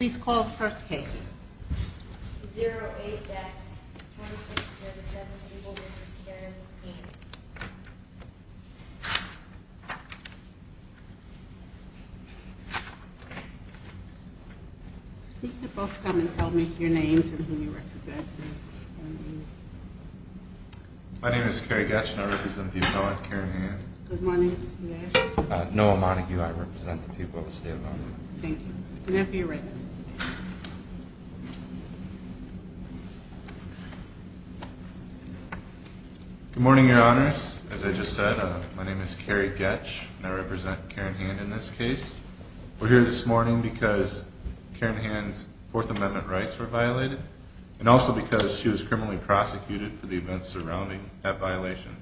Please call the first case. You can both come and tell me your names and who you represent. My name is Kerry Getschner. I represent the people of the state of Illinois. Thank you. Good morning, your honors. As I just said, my name is Kerry Getsch, and I represent Karen Hand in this case. We're here this morning because Karen Hand's Fourth Amendment rights were violated, and also because she was criminally prosecuted for the events surrounding that violation.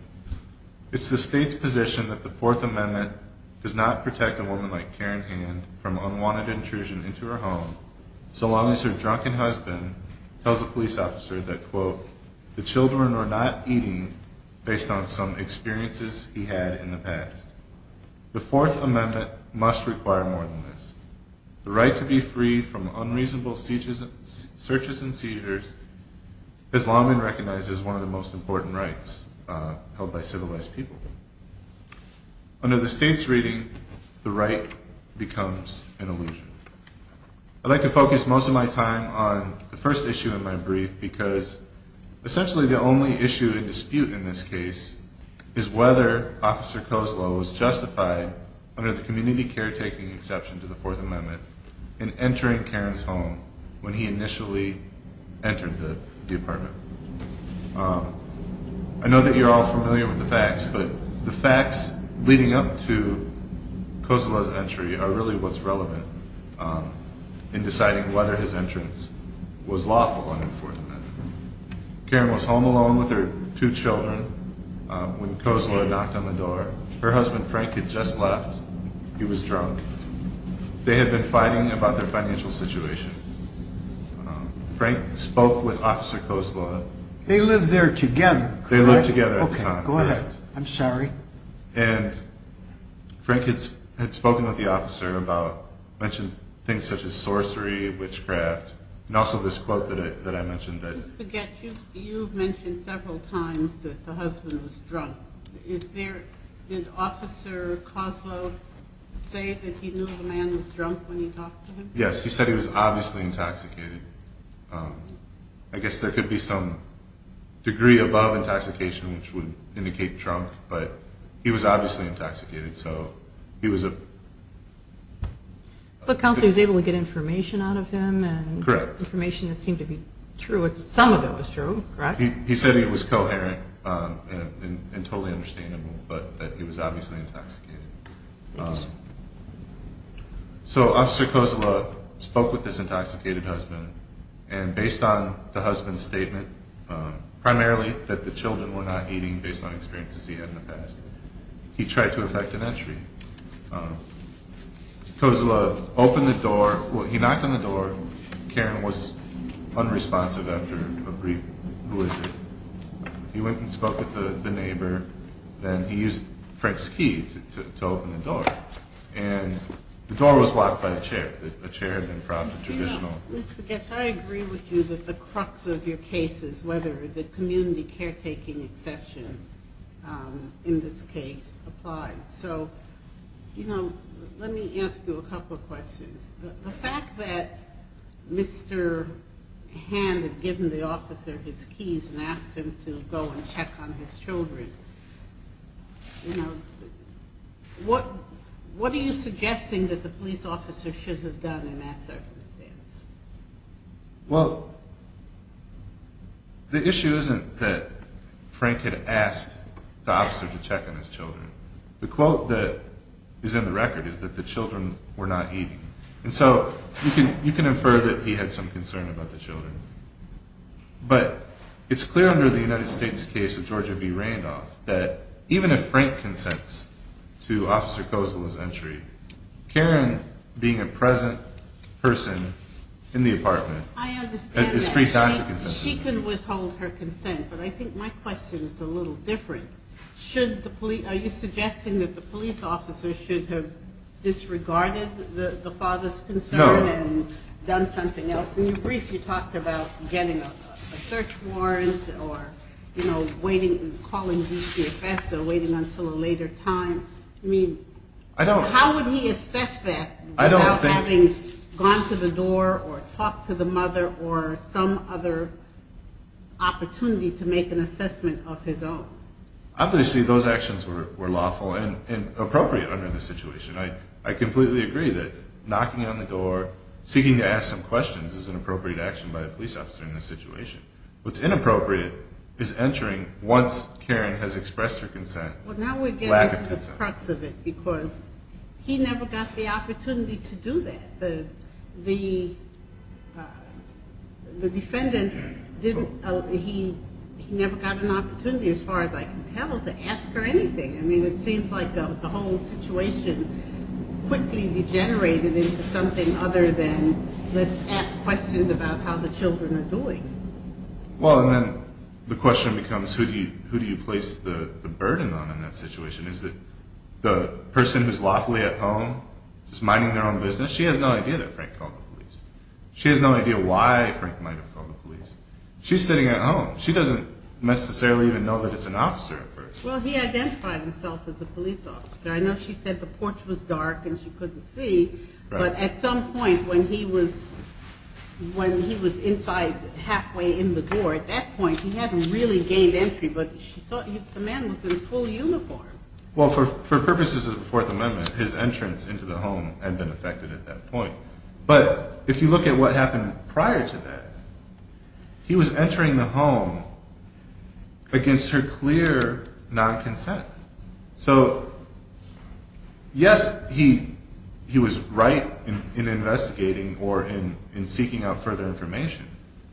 It's the state's position that the Fourth Amendment does not protect a woman like Karen Hand from unwanted intrusion into her home, so long as her drunken husband tells a police officer that, quote, the children are not eating based on some experiences he had in the past. The Fourth Amendment must require more than this. The right to be free from unreasonable searches and seizures has long been recognized as one of the most important rights held by civilized people. Under the state's reading, the right becomes an illusion. I'd like to focus most of my time on the first issue in my brief, because essentially the only issue in dispute in this case is whether Officer Kozlo was justified under the community caretaking exception to the Fourth Amendment in entering Karen's home when he initially entered the apartment. I know that you're all familiar with the facts, but the facts leading up to Kozlo's entry are really what's relevant in deciding whether his entrance was lawful under the Fourth Amendment. Karen was home alone with her two children when Kozlo knocked on the door. Her husband Frank had just left. He was drunk. They had been fighting about their financial situation. Frank spoke with Officer Kozlo. They lived there together, correct? They lived together at the time, correct. Okay, go ahead. I'm sorry. And Frank had spoken with the officer about, mentioned things such as sorcery, witchcraft, and also this quote that I mentioned that... Just to get you, you've mentioned several times that the husband was drunk. Is there, did Officer Kozlo say that he knew the man was drunk when he talked to him? Yes, he said he was obviously intoxicated. I guess there could be some degree above intoxication which would indicate drunk, but he was obviously intoxicated, so he was... But Counselor was able to get information out of him and... Correct. Information that seemed to be true. Some of it was true, correct? He said he was coherent and totally understandable, but that he was obviously intoxicated. Thank you, sir. So Officer Kozlo spoke with this intoxicated husband, and based on the husband's statement, primarily that the children were not eating based on experiences he had in the past, he tried to effect an entry. Kozlo opened the door, he knocked on the door, Karen was unresponsive after a brief, who is it? He went and spoke with the neighbor, and he used Frank's key to open the door. And the door was locked by a chair, a chair had been propped, a traditional... Mr. Goetz, I agree with you that the crux of your case is whether the community caretaking exception in this case applies. So, you know, let me ask you a couple of questions. The fact that Mr. Hand had given the officer his keys and asked him to go and check on his children, you know, what are you suggesting that the police officer should have done in that circumstance? Well, the issue isn't that Frank had asked the officer to check on his children. The quote that is in the record is that the children were not eating. And so you can infer that he had some concern about the children. But it's clear under the United States case of Georgia B. Randolph that even if Frank consents to Officer Kozlo's entry, Karen, being a present person in the apartment... I understand that, she can withhold her consent, but I think my question is a little different. Are you suggesting that the police officer should have disregarded the father's concern... No. ...and done something else? In your brief, you talked about getting a search warrant or, you know, calling DCFS or waiting until a later time. I mean, how would he assess that... I don't think... ...without having gone to the door or talked to the mother or some other opportunity to make an assessment of his own. Obviously, those actions were lawful and appropriate under the situation. I completely agree that knocking on the door, seeking to ask some questions is an appropriate action by a police officer in this situation. What's inappropriate is entering once Karen has expressed her consent. Well, now we're getting to the crux of it because he never got the opportunity to do that. The defendant, he never got an opportunity, as far as I can tell, to ask her anything. I mean, it seems like the whole situation quickly degenerated into something other than, let's ask questions about how the children are doing. Well, and then the question becomes, who do you place the burden on in that situation? Is it the person who's lawfully at home, just minding their own business? She has no idea that Frank called the police. She has no idea why Frank might have called the police. She's sitting at home. She doesn't necessarily even know that it's an officer at first. Well, he identified himself as a police officer. I know she said the porch was dark and she couldn't see, but at some point when he was inside halfway in the door, at that point he hadn't really gained entry, but the man was in full uniform. Well, for purposes of the Fourth Amendment, his entrance into the home had been affected at that point. But if you look at what happened prior to that, he was entering the home against her clear non-consent. So, yes, he was right in investigating or in seeking out further information,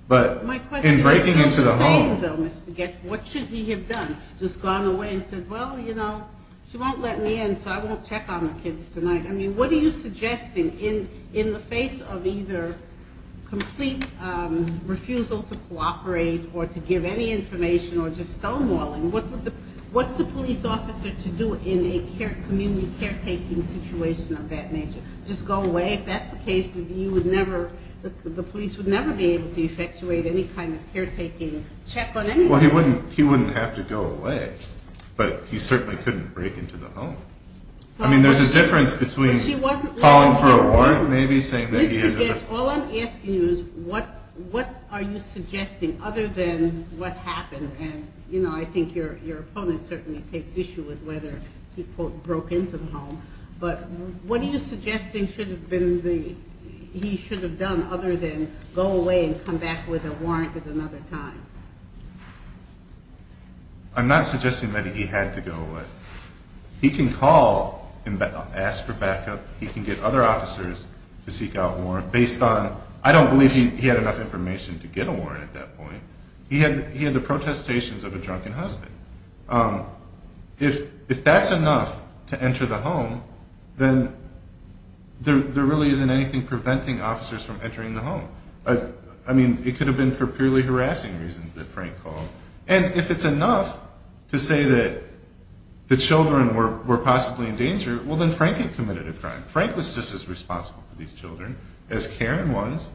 but in breaking into the home... My question is the same, though, Mr. Goetz. What should he have done? He could have just gone away and said, well, you know, she won't let me in, so I won't check on the kids tonight. I mean, what are you suggesting in the face of either complete refusal to cooperate or to give any information or just stonewalling? What's the police officer to do in a community caretaking situation of that nature? Just go away? If that's the case, the police would never be able to effectuate any kind of caretaking check on anybody. Well, he wouldn't have to go away, but he certainly couldn't break into the home. I mean, there's a difference between calling for a warrant, maybe, saying that he... Mr. Goetz, all I'm asking you is what are you suggesting other than what happened? And, you know, I think your opponent certainly takes issue with whether he, quote, broke into the home, but what are you suggesting should have been the... go away and come back with a warrant at another time? I'm not suggesting that he had to go away. He can call and ask for backup. He can get other officers to seek out a warrant based on... I don't believe he had enough information to get a warrant at that point. He had the protestations of a drunken husband. If that's enough to enter the home, then there really isn't anything preventing officers from entering the home. I mean, it could have been for purely harassing reasons that Frank called. And if it's enough to say that the children were possibly in danger, well, then Frank had committed a crime. Frank was just as responsible for these children as Karen was.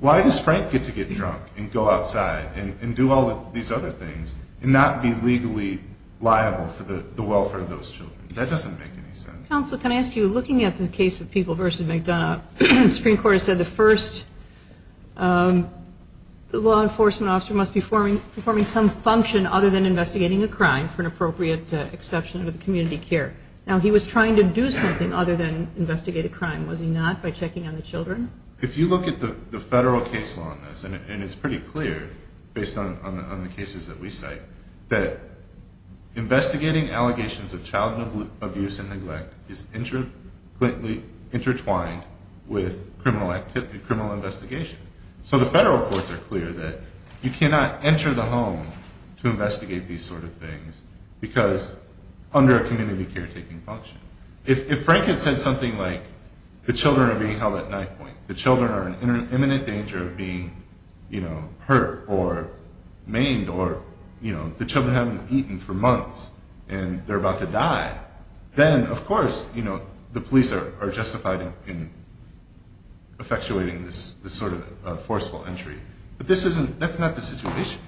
Why does Frank get to get drunk and go outside and do all these other things and not be legally liable for the welfare of those children? That doesn't make any sense. Counsel, can I ask you, looking at the case of People v. McDonough, the Supreme Court has said the first law enforcement officer must be performing some function other than investigating a crime for an appropriate exception to the community care. Now, he was trying to do something other than investigate a crime, was he not, by checking on the children? If you look at the federal case law on this, and it's pretty clear, based on the cases that we cite, that investigating allegations of child abuse and neglect is intertwined with criminal investigation. So the federal courts are clear that you cannot enter the home to investigate these sort of things because under a community care taking function. If Frank had said something like, the children are being held at knife point, the children are in imminent danger of being hurt or maimed or the children haven't eaten for months and they're about to die, then, of course, the police are justified in effectuating this sort of forceful entry. But that's not the situation.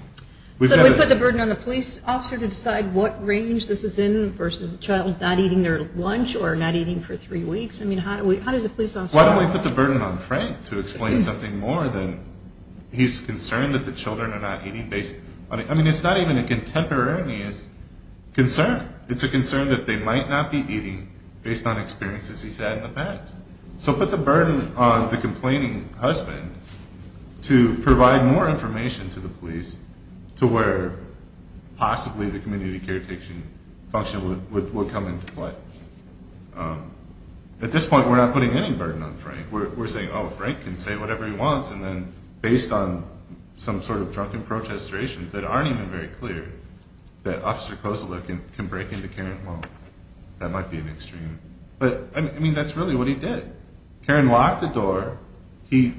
So do we put the burden on the police officer to decide what range this is in versus the child not eating their lunch or not eating for three weeks? Why don't we put the burden on Frank to explain something more than he's concerned that the children are not eating based on... I mean, it's not even a contemporaneous concern. It's a concern that they might not be eating based on experiences he's had in the past. So put the burden on the complaining husband to provide more information to the police to where possibly the community care taking function would come into play. At this point, we're not putting any burden on Frank. We're saying, oh, Frank can say whatever he wants and then based on some sort of drunken protestorations that aren't even very clear, that Officer Kozula can break into Karen's home. That might be an extreme. But, I mean, that's really what he did. Karen locked the door, he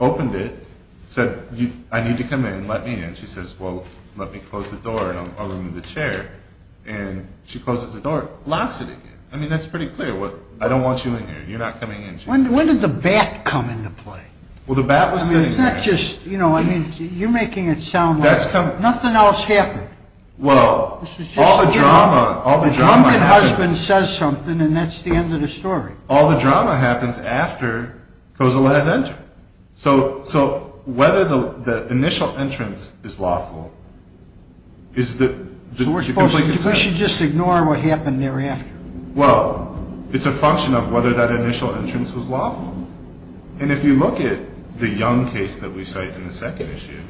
opened it, said, I need to come in, let me in. She says, well, let me close the door and I'll room in the chair. And she closes the door, locks it again. I mean, that's pretty clear. I don't want you in here, you're not coming in. When did the bat come into play? Well, the bat was sitting there. I mean, you're making it sound like nothing else happened. Well, all the drama... The drunken husband says something and that's the end of the story. All the drama happens after Kozula has entered. So whether the initial entrance is lawful... So we should just ignore what happened thereafter? Well, it's a function of whether that initial entrance was lawful. And if you look at the Young case that we cite in the second issue,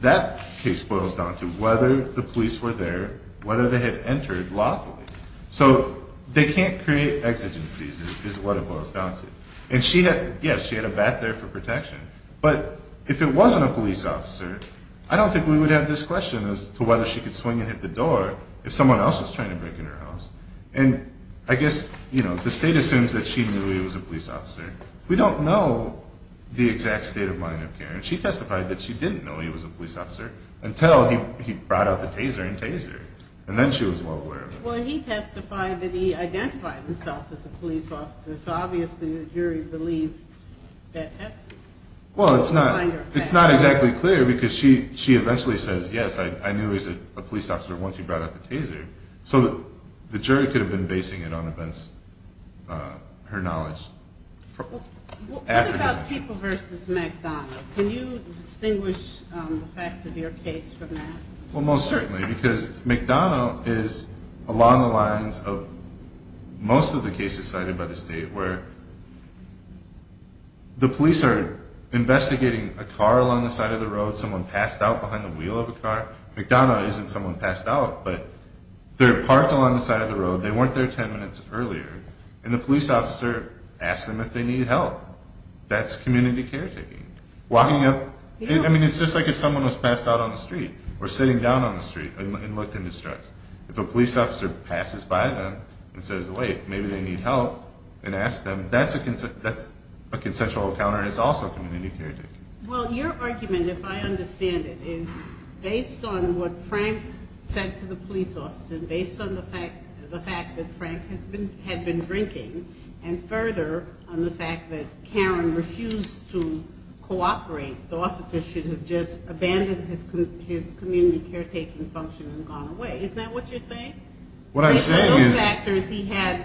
that case boils down to whether the police were there, whether they had entered lawfully. So they can't create exigencies is what it boils down to. And, yes, she had a bat there for protection. But if it wasn't a police officer, I don't think we would have this question as to whether she could swing and hit the door if someone else was trying to break into her house. And I guess the state assumes that she knew he was a police officer. We don't know the exact state of mind of Karen. She testified that she didn't know he was a police officer until he brought out the taser and tased her. And then she was well aware of it. Well, he testified that he identified himself as a police officer, so obviously the jury believed that testimony. Well, it's not exactly clear because she eventually says, yes, I knew he was a police officer once he brought out the taser. So the jury could have been basing it on her knowledge. What about People v. McDonough? Can you distinguish the facts of your case from that? Well, most certainly, because McDonough is along the lines of most of the cases cited by the state where the police are investigating a car along the side of the road, someone passed out behind the wheel of a car. McDonough isn't someone passed out, but they're parked along the side of the road. They weren't there 10 minutes earlier. And the police officer asked them if they needed help. That's community caretaking. Walking up, I mean, it's just like if someone was passed out on the street or sitting down on the street and looked in distress. If a police officer passes by them and says, wait, maybe they need help, and asks them, that's a consensual encounter and it's also community caretaking. Well, your argument, if I understand it, is based on what Frank said to the police officer and based on the fact that Frank had been drinking and further on the fact that Karen refused to cooperate, the officer should have just abandoned his community caretaking function and gone away. Is that what you're saying? Based on those factors, he had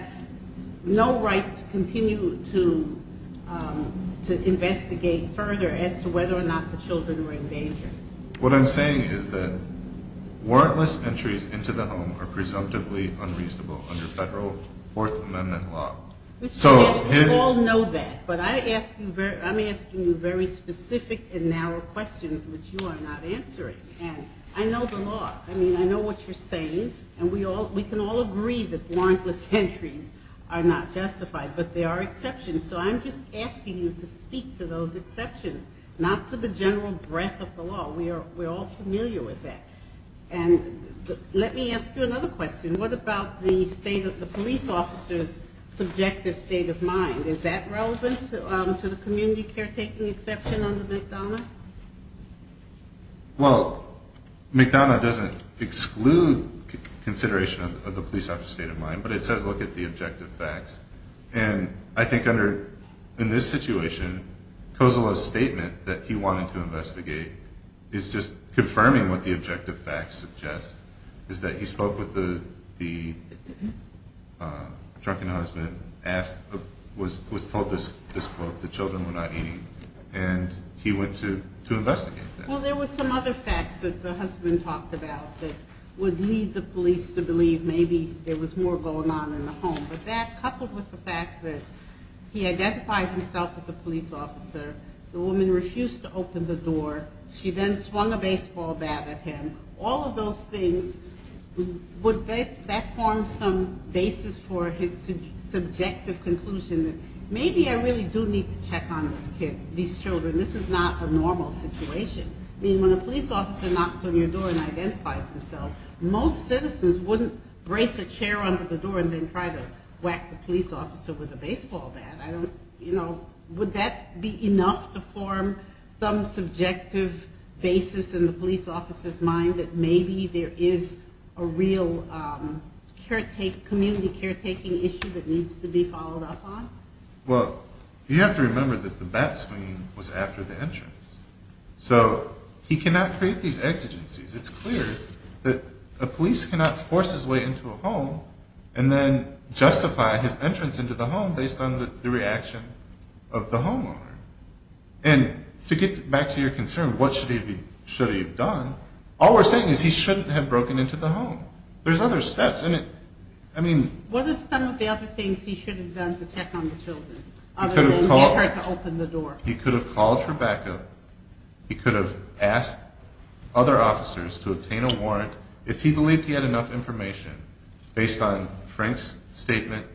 no right to continue to investigate further as to whether or not the children were in danger. What I'm saying is that warrantless entries into the home are presumptively unreasonable under federal Fourth Amendment law. We all know that, but I'm asking you very specific and narrow questions which you are not answering, and I know the law. I mean, I know what you're saying, and we can all agree that warrantless entries are not justified, but there are exceptions, so I'm just asking you to speak to those exceptions, not to the general breadth of the law. We're all familiar with that. And let me ask you another question. What about the state of the police officer's subjective state of mind? Is that relevant to the community caretaking exception under McDonough? Well, McDonough doesn't exclude consideration of the police officer's state of mind, but it says look at the objective facts. And I think in this situation, Kozula's statement that he wanted to investigate is just confirming what the objective facts suggest, is that he spoke with the drunken husband, was told this quote, that the children were not eating, and he went to investigate that. Well, there were some other facts that the husband talked about that would lead the police to believe maybe there was more going on in the home, but that coupled with the fact that he identified himself as a police officer, the woman refused to open the door, she then swung a baseball bat at him, all of those things, would that form some basis for his subjective conclusion that maybe I really do need to check on these children, this is not a normal situation? I mean, when a police officer knocks on your door and identifies themselves, most citizens wouldn't brace a chair under the door and then try to whack the police officer with a baseball bat. I don't, you know, would that be enough to form some subjective basis in the police officer's mind that maybe there is a real community caretaking issue that needs to be followed up on? Well, you have to remember that the bat swing was after the entrance, so he cannot create these exigencies. It's clear that a police cannot force his way into a home and then justify his entrance into the home based on the reaction of the homeowner. And to get back to your concern, what should he have done, all we're saying is he shouldn't have broken into the home. There's other steps, and I mean... What are some of the other things he should have done to check on the children other than get her to open the door? He could have called for backup. He could have asked other officers to obtain a warrant if he believed he had enough information based on Frank's statement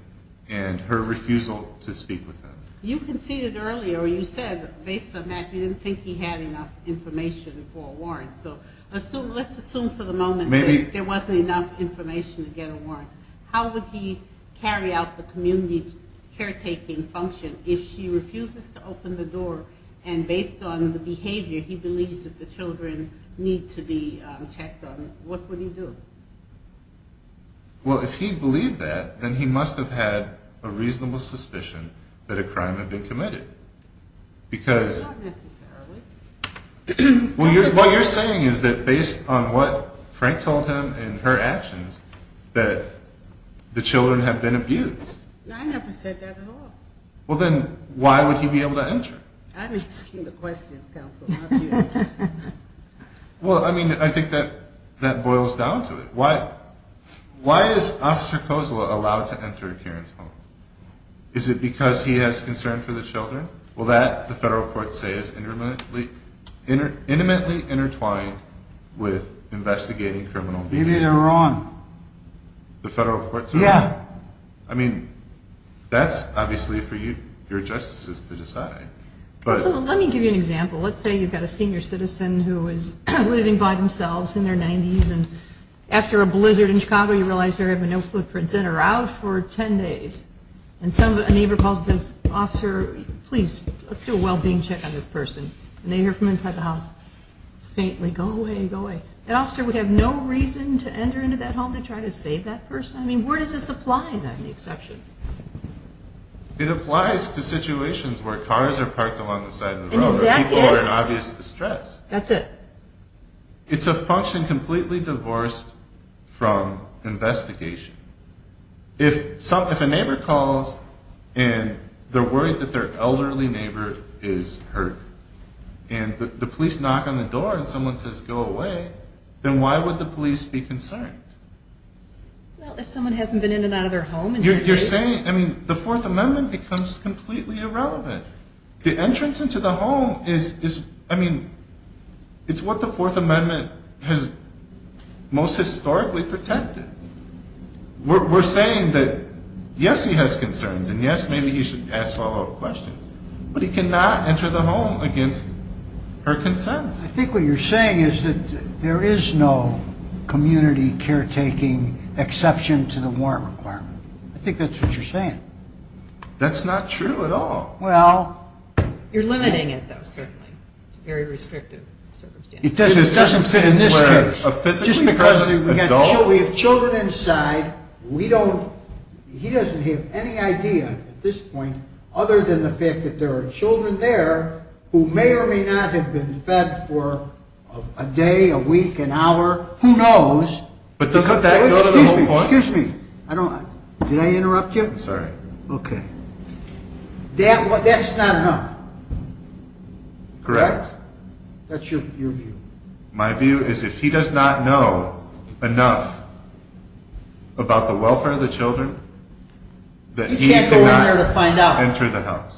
and her refusal to speak with him. You conceded earlier, you said based on that, you didn't think he had enough information for a warrant. How would he carry out the community caretaking function if she refuses to open the door, and based on the behavior, he believes that the children need to be checked on, what would he do? Well, if he believed that, then he must have had a reasonable suspicion that a crime had been committed, because... Not necessarily. What you're saying is that based on what Frank told him and her actions, that the children have been abused. No, I never said that at all. Well, then why would he be able to enter? I'm asking the questions, counsel, not you. Well, I mean, I think that boils down to it. Why is Officer Kozula allowed to enter Karen's home? Is it because he has concern for the children? Well, that, the federal courts say, is intimately intertwined with investigating criminal behavior. Maybe they're wrong. The federal courts are wrong? Yeah. I mean, that's obviously for you, your justices, to decide. Let me give you an example. Let's say you've got a senior citizen who is living by themselves in their 90s, and after a blizzard in Chicago, you realize they're having no footprints in or out for 10 days, and a neighbor calls and says, Officer, please, let's do a well-being check on this person. And they hear from inside the house, faintly, go away, go away. That officer would have no reason to enter into that home to try to save that person? I mean, where does this apply, then, the exception? It applies to situations where cars are parked along the side of the road or people are in obvious distress. That's it. It's a function completely divorced from investigation. If a neighbor calls and they're worried that their elderly neighbor is hurt, and the police knock on the door and someone says go away, then why would the police be concerned? Well, if someone hasn't been in and out of their home in 10 days. You're saying, I mean, the Fourth Amendment becomes completely irrelevant. The entrance into the home is, I mean, it's what the Fourth Amendment has most historically protected. We're saying that, yes, he has concerns, and, yes, maybe he should ask follow-up questions, but he cannot enter the home against her consent. I think what you're saying is that there is no community caretaking exception to the warrant requirement. I think that's what you're saying. That's not true at all. Well. You're limiting it, though, certainly. It's a very restrictive circumstance. It doesn't fit in this case. Just because we have children inside, we don't, he doesn't have any idea at this point, other than the fact that there are children there who may or may not have been fed for a day, a week, an hour, who knows. But doesn't that go to the whole point? Excuse me. Did I interrupt you? I'm sorry. Okay. That's not enough. Correct? That's your view. My view is if he does not know enough about the welfare of the children, that he cannot enter the house. He can't go in there to find out.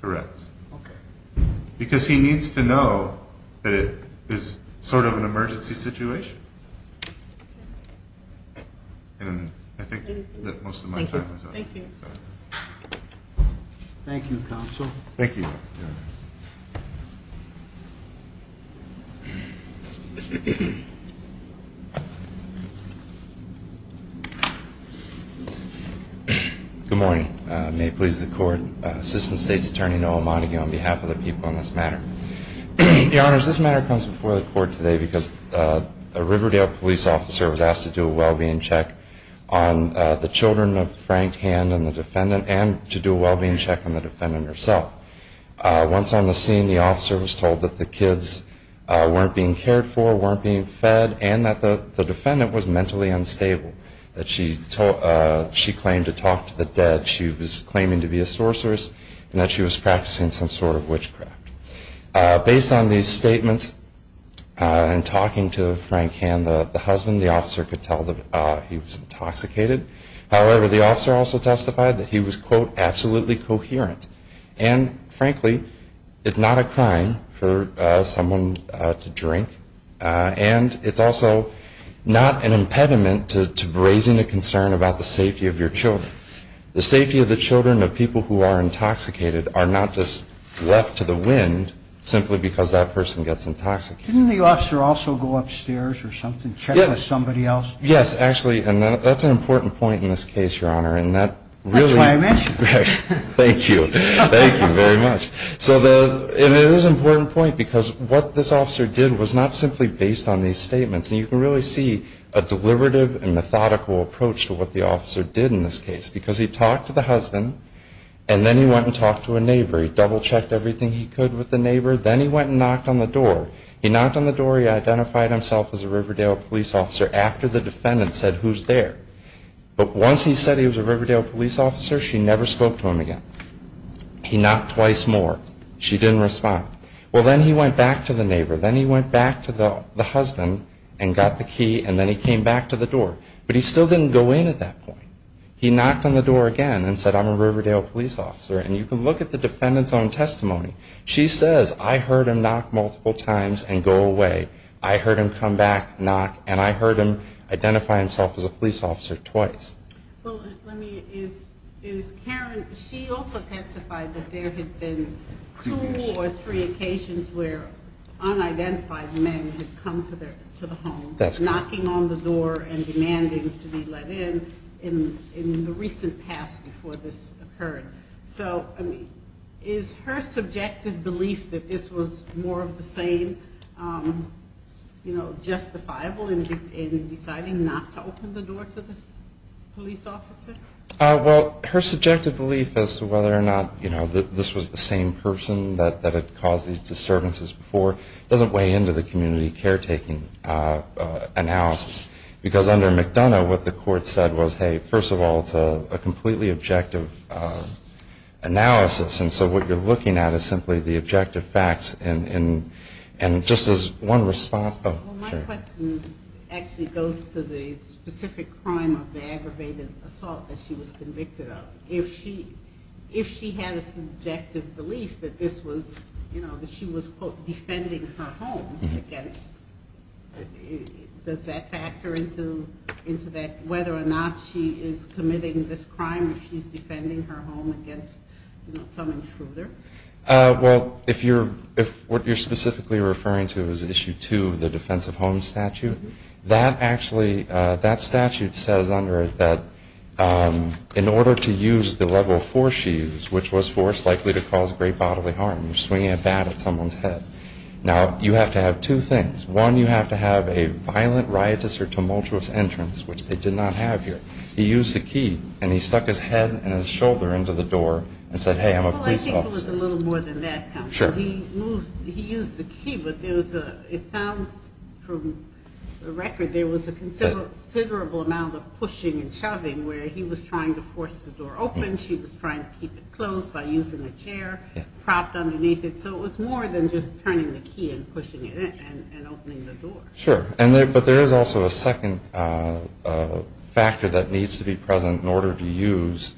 Correct. Okay. Because he needs to know that it is sort of an emergency situation. And I think that most of my time is up. Thank you. Thank you, Counsel. Thank you. Good morning. May it please the Court. Assistant State's Attorney Noah Monaghan on behalf of the people on this matter. Your Honors, this matter comes before the Court today because a Riverdale police officer was asked to do a well-being check on the children of Frank Hand and the defendant and to do a well-being check on the defendant herself. Once on the scene, the officer was told that the kids weren't being cared for, weren't being fed, and that the defendant was mentally unstable, that she claimed to talk to the dead, she was claiming to be a sorceress, and that she was practicing some sort of witchcraft. Based on these statements and talking to Frank Hand, the husband, the officer could tell that he was intoxicated. However, the officer also testified that he was, quote, absolutely coherent. And frankly, it's not a crime for someone to drink, and it's also not an impediment to raising a concern about the safety of your children. The safety of the children of people who are intoxicated are not just left to the wind simply because that person gets intoxicated. Didn't the officer also go upstairs or something, check with somebody else? Yes. Yes, actually, and that's an important point in this case, Your Honor. That's why I mentioned it. Thank you. Thank you very much. And it is an important point because what this officer did was not simply based on these statements. And you can really see a deliberative and methodical approach to what the officer did in this case because he talked to the husband, and then he went and talked to a neighbor. He double-checked everything he could with the neighbor. Then he went and knocked on the door. He knocked on the door. He identified himself as a Riverdale police officer after the defendant said, who's there? But once he said he was a Riverdale police officer, she never spoke to him again. He knocked twice more. She didn't respond. Well, then he went back to the neighbor. Then he went back to the husband and got the key, and then he came back to the door. But he still didn't go in at that point. He knocked on the door again and said, I'm a Riverdale police officer. And you can look at the defendant's own testimony. She says, I heard him knock multiple times and go away. I heard him come back, knock, and I heard him identify himself as a police officer twice. Well, let me, is Karen, she also testified that there had been two or three occasions where unidentified men had come to the home knocking on the door and demanding to be let in in the recent past before this occurred. So, I mean, is her subjective belief that this was more of the same, you know, justifiable in deciding not to open the door to this police officer? Well, her subjective belief as to whether or not, you know, this was the same person that had caused these disturbances before doesn't weigh into the community caretaking analysis. Because under McDonough, what the court said was, hey, first of all, it's a completely objective analysis. And so what you're looking at is simply the objective facts. And just as one response. Well, my question actually goes to the specific crime of the aggravated assault that she was convicted of. If she had a subjective belief that this was, you know, that she was, quote, defending her home against, does that factor into that whether or not she is committing this crime if she's defending her home against, you know, some intruder? Well, if you're, what you're specifically referring to is Issue 2 of the Defense of Homes Statute, that actually, that statute says under it that in order to use the level of force she used, which was force likely to cause great bodily harm, you're swinging a bat at someone's head. Now, you have to have two things. One, you have to have a violent, riotous, or tumultuous entrance, which they did not have here. He used the key, and he stuck his head and his shoulder into the door and said, hey, I'm a police officer. Well, I think it was a little more than that, counsel. He used the key, but there was a, it sounds from the record, there was a considerable amount of pushing and shoving where he was trying to force the door open. She was trying to keep it closed by using a chair propped underneath it. So it was more than just turning the key and pushing it in and opening the door. Sure. But there is also a second factor that needs to be present in order to use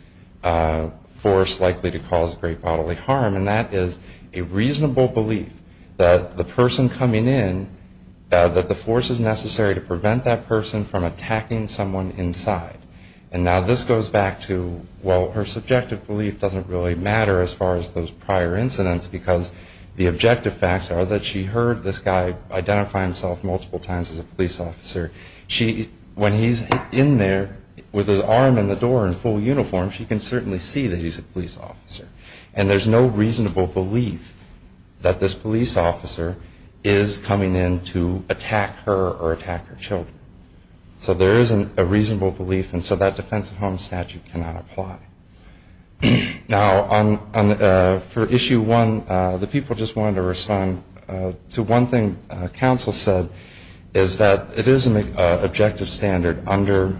force likely to cause great bodily harm, and that is a reasonable belief that the person coming in, that the force is necessary to prevent that person from attacking someone inside. And now this goes back to, well, her subjective belief doesn't really matter as far as those prior incidents because the objective facts are that she heard this guy identify himself multiple times as a police officer. When he's in there with his arm in the door in full uniform, she can certainly see that he's a police officer. And there's no reasonable belief that this police officer is coming in to attack her or attack her children. So there is a reasonable belief, and so that defense of home statute cannot apply. Now, for issue one, the people just wanted to respond to one thing counsel said, is that it is an objective standard under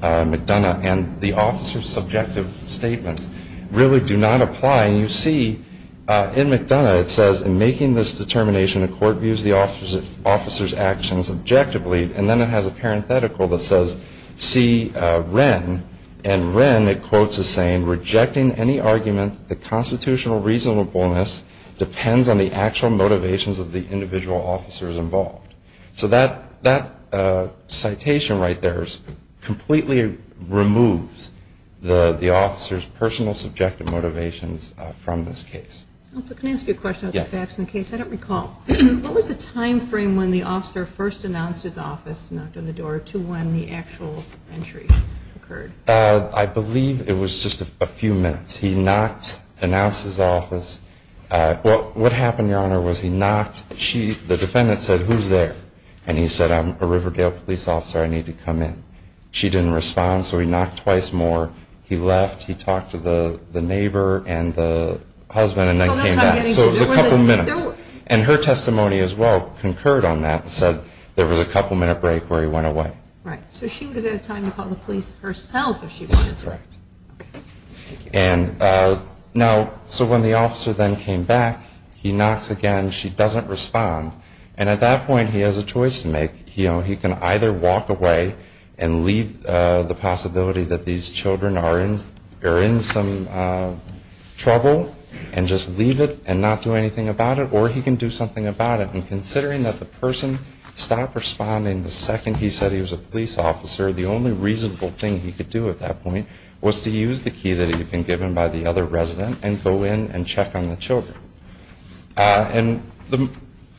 McDonough, and the officer's subjective statements really do not apply. And you see in McDonough it says, in making this determination, the court views the officer's actions objectively. And then it has a parenthetical that says, see Wren. And Wren, it quotes as saying, rejecting any argument, the constitutional reasonableness depends on the actual motivations of the individual officers involved. So that citation right there completely removes the officer's personal subjective motivations from this case. Counsel, can I ask you a question about the facts in the case? Yes. I don't recall. What was the time frame when the officer first announced his office, knocked on the door, to when the actual entry occurred? I believe it was just a few minutes. He knocked, announced his office. What happened, Your Honor, was he knocked, the defendant said, who's there? And he said, I'm a Riverdale police officer. I need to come in. She didn't respond, so he knocked twice more. He left. He talked to the neighbor and the husband and then came back. So it was a couple minutes. And her testimony as well concurred on that and said there was a couple-minute break where he went away. Right. So she would have had time to call the police herself if she wanted to. That's correct. And now, so when the officer then came back, he knocks again. She doesn't respond. And at that point, he has a choice to make. He can either walk away and leave the possibility that these children are in some trouble and just leave it and not do anything about it, or he can do something about it. And considering that the person stopped responding the second he said he was a police officer, the only reasonable thing he could do at that point was to use the key that had been given by the other resident and go in and check on the children. And the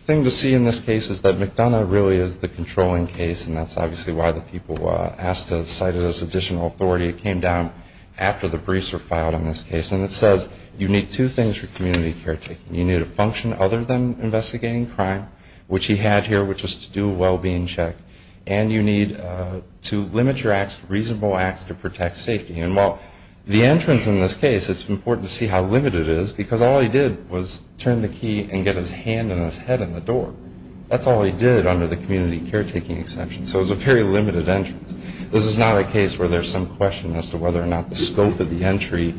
thing to see in this case is that McDonough really is the controlling case, and that's obviously why the people asked to cite it as additional authority. It came down after the briefs were filed on this case. And it says you need two things for community caretaking. You need a function other than investigating crime, which he had here, which was to do a well-being check, and you need to limit your acts to reasonable acts to protect safety. And while the entrance in this case, it's important to see how limited it is because all he did was turn the key and get his hand and his head in the door. That's all he did under the community caretaking exception. So it was a very limited entrance. This is not a case where there's some question as to whether or not the scope of the entry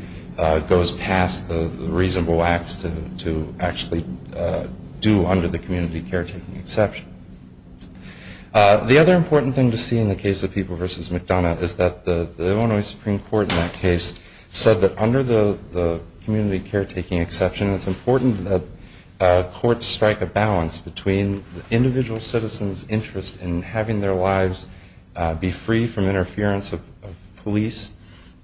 goes past the reasonable acts to actually do under the community caretaking exception. The other important thing to see in the case of People v. McDonough is that the Illinois Supreme Court in that case said that under the community caretaking exception, it's important that courts strike a balance between the individual citizen's interest in having their lives be free from interference of police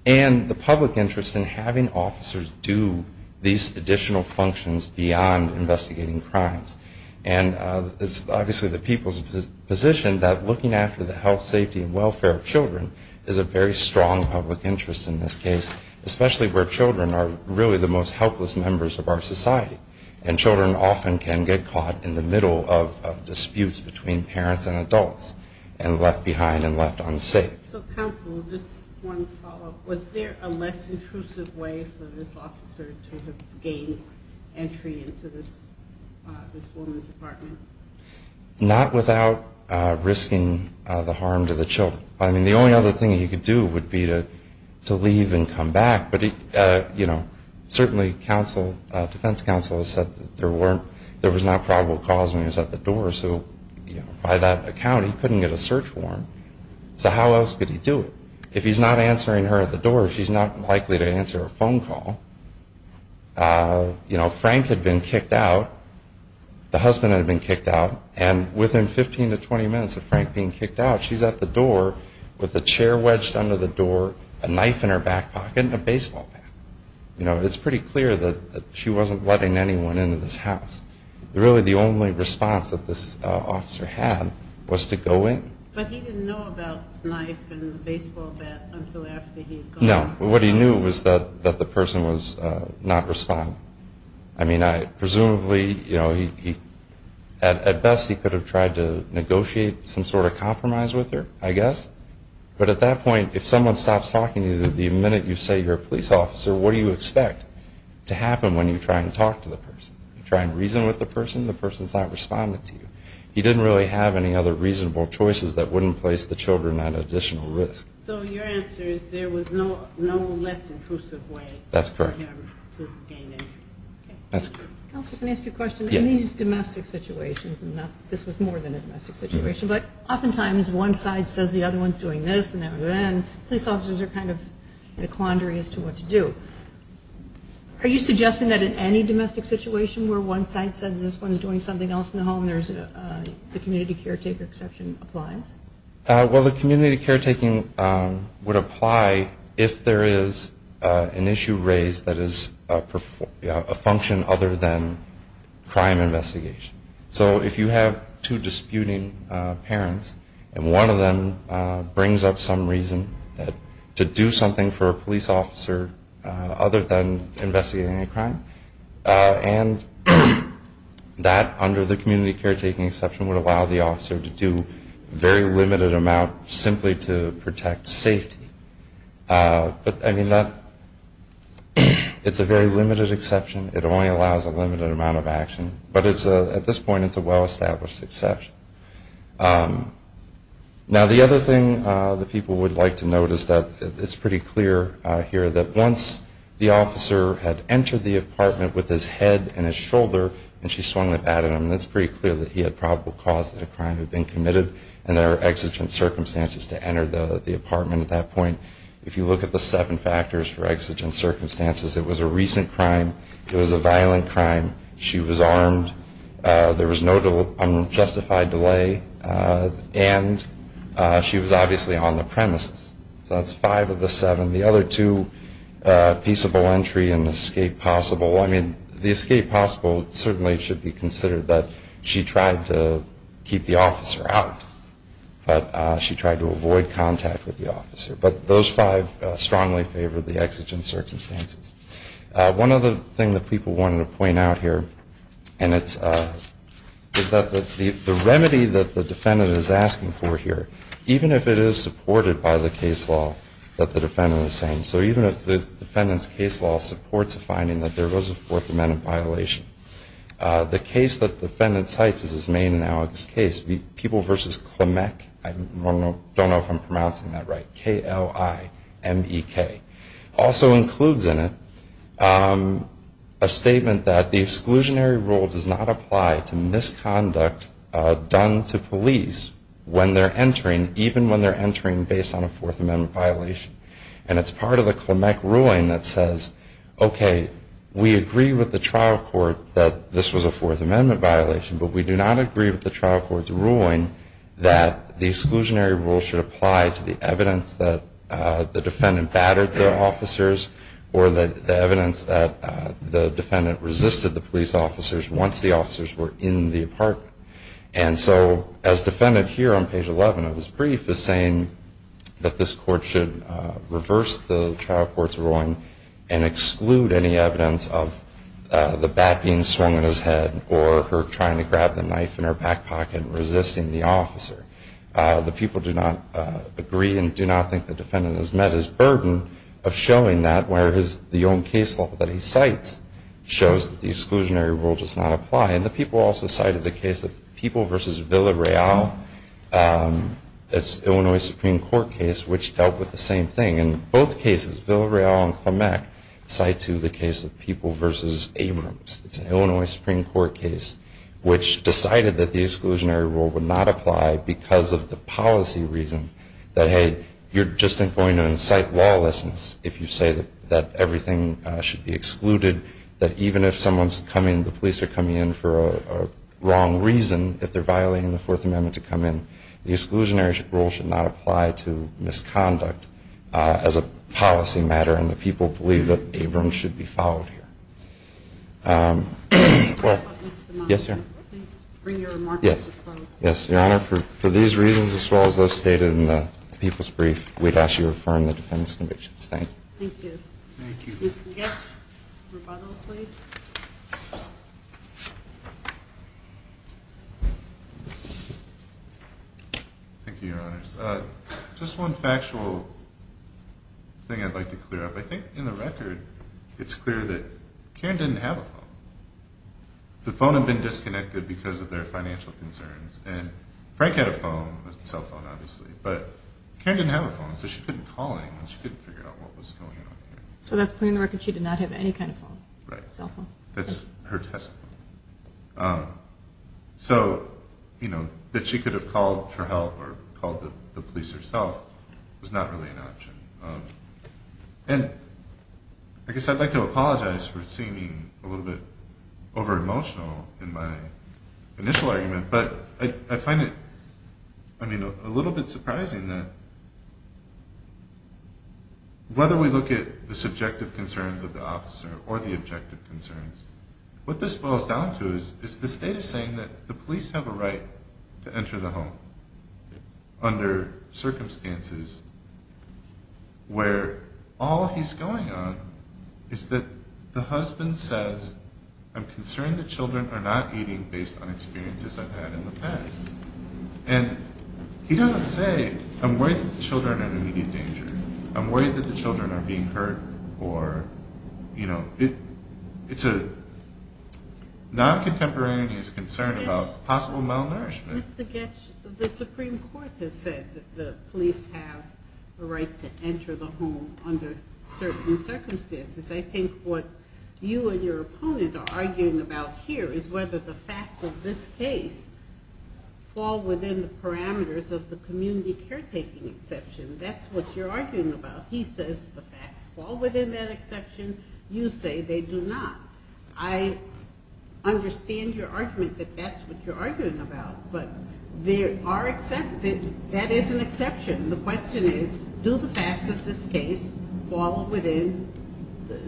and the public interest in having officers do these additional functions beyond investigating crimes. And it's obviously the people's position that looking after the health, safety, and welfare of children is a very strong public interest in this case, especially where children are really the most helpless members of our society. And children often can get caught in the middle of disputes between parents and adults and left behind and left unsafe. So, counsel, just one follow-up. Was there a less intrusive way for this officer to have gained entry into this woman's apartment? Not without risking the harm to the children. I mean, the only other thing he could do would be to leave and come back. But, you know, certainly defense counsel has said that there was not probable cause when he was at the door. So by that account, he couldn't get a search warrant. So how else could he do it? If he's not answering her at the door, she's not likely to answer a phone call. You know, Frank had been kicked out. The husband had been kicked out. And within 15 to 20 minutes of Frank being kicked out, she's at the door with a chair wedged under the door, a knife in her back pocket, and a baseball bat. You know, it's pretty clear that she wasn't letting anyone into this house. Really, the only response that this officer had was to go in. But he didn't know about the knife and the baseball bat until after he had gone in. No. What he knew was that the person was not responding. I mean, presumably, you know, at best he could have tried to negotiate some sort of compromise with her, I guess. But at that point, if someone stops talking to you, the minute you say you're a police officer, what do you expect to happen when you try and talk to the person? You try and reason with the person, the person's not responding to you. He didn't really have any other reasonable choices that wouldn't place the children at additional risk. So your answer is there was no less intrusive way for him to gain entry. That's correct. Counselor, can I ask you a question? Yes. In these domestic situations, and this was more than a domestic situation, but oftentimes one side says the other one's doing this and then police officers are kind of in a quandary as to what to do. Are you suggesting that in any domestic situation where one side says this one's doing something else in the home, the community caretaker exception applies? Well, the community caretaking would apply if there is an issue raised that is a function other than crime investigation. So if you have two disputing parents and one of them brings up some reason to do something for a police officer other than investigating a crime, and that under the community caretaking exception would allow the officer to do a very limited amount simply to protect safety. But, I mean, it's a very limited exception. It only allows a limited amount of action. But at this point it's a well-established exception. Now the other thing that people would like to note is that it's pretty clear here that once the officer had entered the apartment with his head and his shoulder and she swung the bat at him, it's pretty clear that he had probable cause that a crime had been committed and there were exigent circumstances to enter the apartment at that point. If you look at the seven factors for exigent circumstances, it was a recent crime, it was a violent crime, she was armed, there was no unjustified delay, and she was obviously on the premises. So that's five of the seven. The other two, peaceable entry and escape possible. I mean, the escape possible certainly should be considered that she tried to keep the officer out, but she tried to avoid contact with the officer. But those five strongly favor the exigent circumstances. One other thing that people wanted to point out here is that the remedy that the defendant is asking for here, even if it is supported by the case law that the defendant is saying, so even if the defendant's case law supports a finding that there was a Fourth Amendment violation, the case that the defendant cites is his main analogous case, People v. Klimek, I don't know if I'm pronouncing that right, K-L-I-M-E-K, also includes in it a statement that the exclusionary rule does not apply to misconduct done to police when they're entering, even when they're entering based on a Fourth Amendment violation. And it's part of the Klimek ruling that says, okay, we agree with the trial court that this was a Fourth Amendment violation, but we do not agree with the trial court's ruling that the exclusionary rule should apply to the evidence that the defendant battered the officers or the evidence that the defendant resisted the police officers once the officers were in the apartment. And so as defendant here on page 11 of his brief is saying that this court should reverse the trial court's ruling and exclude any evidence of the bat being swung in his head or her trying to grab the knife in her back pocket and resisting the officer. The people do not agree and do not think the defendant has met his burden of showing that, whereas the own case law that he cites shows that the exclusionary rule does not apply. And the people also cited the case of People v. Villareal. It's an Illinois Supreme Court case which dealt with the same thing. In both cases, Villareal and Klimek cite to the case of People v. Abrams. It's an Illinois Supreme Court case which decided that the exclusionary rule would not apply because of the policy reason that, hey, you're just going to incite lawlessness if you say that everything should be excluded, that even if someone's coming, the police are coming in for a wrong reason, if they're violating the Fourth Amendment to come in, the exclusionary rule should not apply to misconduct as a policy matter. And the people believe that Abrams should be followed here. Well, yes, sir. Please bring your remarks to a close. Yes. Your Honor, for these reasons as well as those stated in the People's Brief, we'd ask you to affirm the defense conviction. Thank you. Thank you. Thank you. Ms. McGaff, rebuttal, please. Thank you, Your Honors. Just one factual thing I'd like to clear up. I think in the record it's clear that Karen didn't have a phone. The phone had been disconnected because of their financial concerns, and Frank had a phone, a cell phone, obviously, but Karen didn't have a phone, so she couldn't call anyone. She couldn't figure out what was going on here. So that's clear in the record she did not have any kind of phone? Right. Cell phone. That's her testimony. So, you know, that she could have called for help or called the police herself was not really an option. And I guess I'd like to apologize for seeming a little bit over-emotional in my initial argument, but I find it, I mean, a little bit surprising that whether we look at the subjective concerns of the officer or the objective concerns, what this boils down to is the state is saying that the police have a right to enter the home under circumstances where all he's going on is that the husband says, I'm concerned the children are not eating based on experiences I've had in the past. And he doesn't say, I'm worried that the children are in immediate danger. I'm worried that the children are being hurt or, you know, it's a non-contemporaneous concern about possible malnourishment. Mr. Goetsch, the Supreme Court has said that the police have a right to enter the home under certain circumstances. I think what you and your opponent are arguing about here is whether the facts of this case fall within the parameters of the community caretaking exception. That's what you're arguing about. He says the facts fall within that exception. You say they do not. I understand your argument that that's what you're arguing about, but there are exceptions. That is an exception. The question is do the facts of this case fall within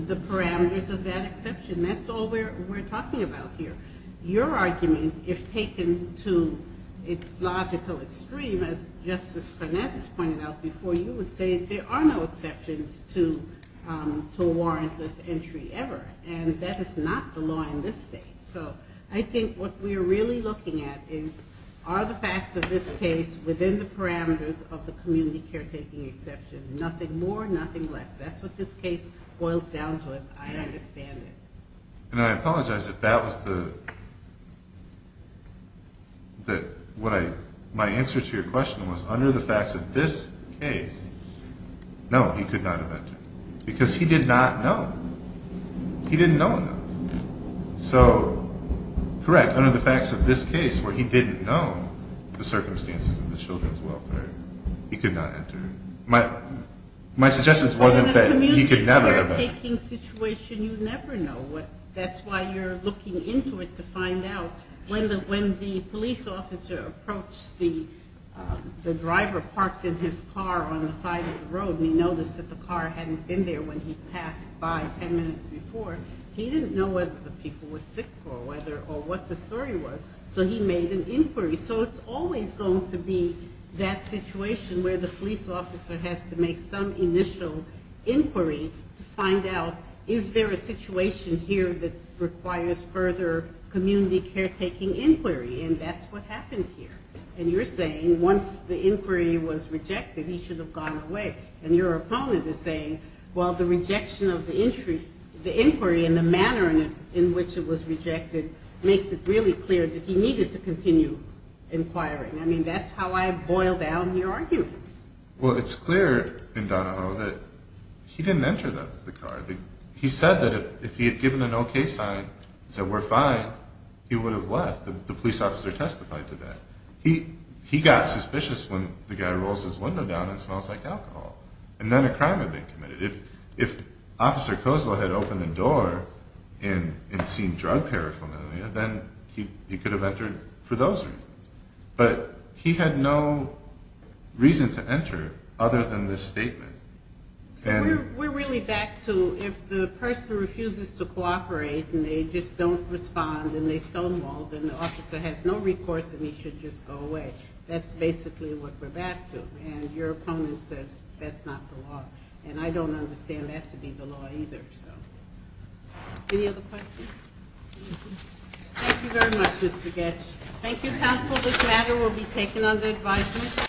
the parameters of that exception? That's all we're talking about here. Your argument, if taken to its logical extreme, as Justice Finesse pointed out before you, would say there are no exceptions to a warrantless entry ever, and that is not the law in this state. So I think what we're really looking at is are the facts of this case within the parameters of the community caretaking exception, nothing more, nothing less. That's what this case boils down to, as I understand it. And I apologize if that was the – my answer to your question was under the facts of this case, no, he could not have entered because he did not know. He didn't know enough. So, correct, under the facts of this case, where he didn't know the circumstances of the children's welfare, he could not enter. My suggestion wasn't that he could never enter. In a community caretaking situation, you never know. That's why you're looking into it to find out. When the police officer approached the driver parked in his car on the side of the road and he noticed that the car hadn't been there when he passed by ten minutes before, he didn't know whether the people were sick or what the story was, so he made an inquiry. So it's always going to be that situation where the police officer has to make some initial inquiry to find out is there a situation here that requires further community caretaking inquiry, and that's what happened here. And you're saying once the inquiry was rejected, he should have gone away. And your opponent is saying, well, the rejection of the inquiry and the manner in which it was rejected makes it really clear that he needed to continue inquiring. I mean, that's how I boil down your arguments. Well, it's clear in Donahoe that he didn't enter the car. He said that if he had given an okay sign and said we're fine, he would have left. The police officer testified to that. He got suspicious when the guy rolls his window down and smells like alcohol, and then a crime had been committed. If Officer Kozlo had opened the door and seen drug paraphernalia, then he could have entered for those reasons. But he had no reason to enter other than this statement. So we're really back to if the person refuses to cooperate and they just don't respond and they stonewall, then the officer has no recourse and he should just go away. That's basically what we're back to. And your opponent says that's not the law. And I don't understand that to be the law either. Any other questions? Thank you very much, Mr. Goetsch. Thank you, counsel. This matter will be taken under advisement.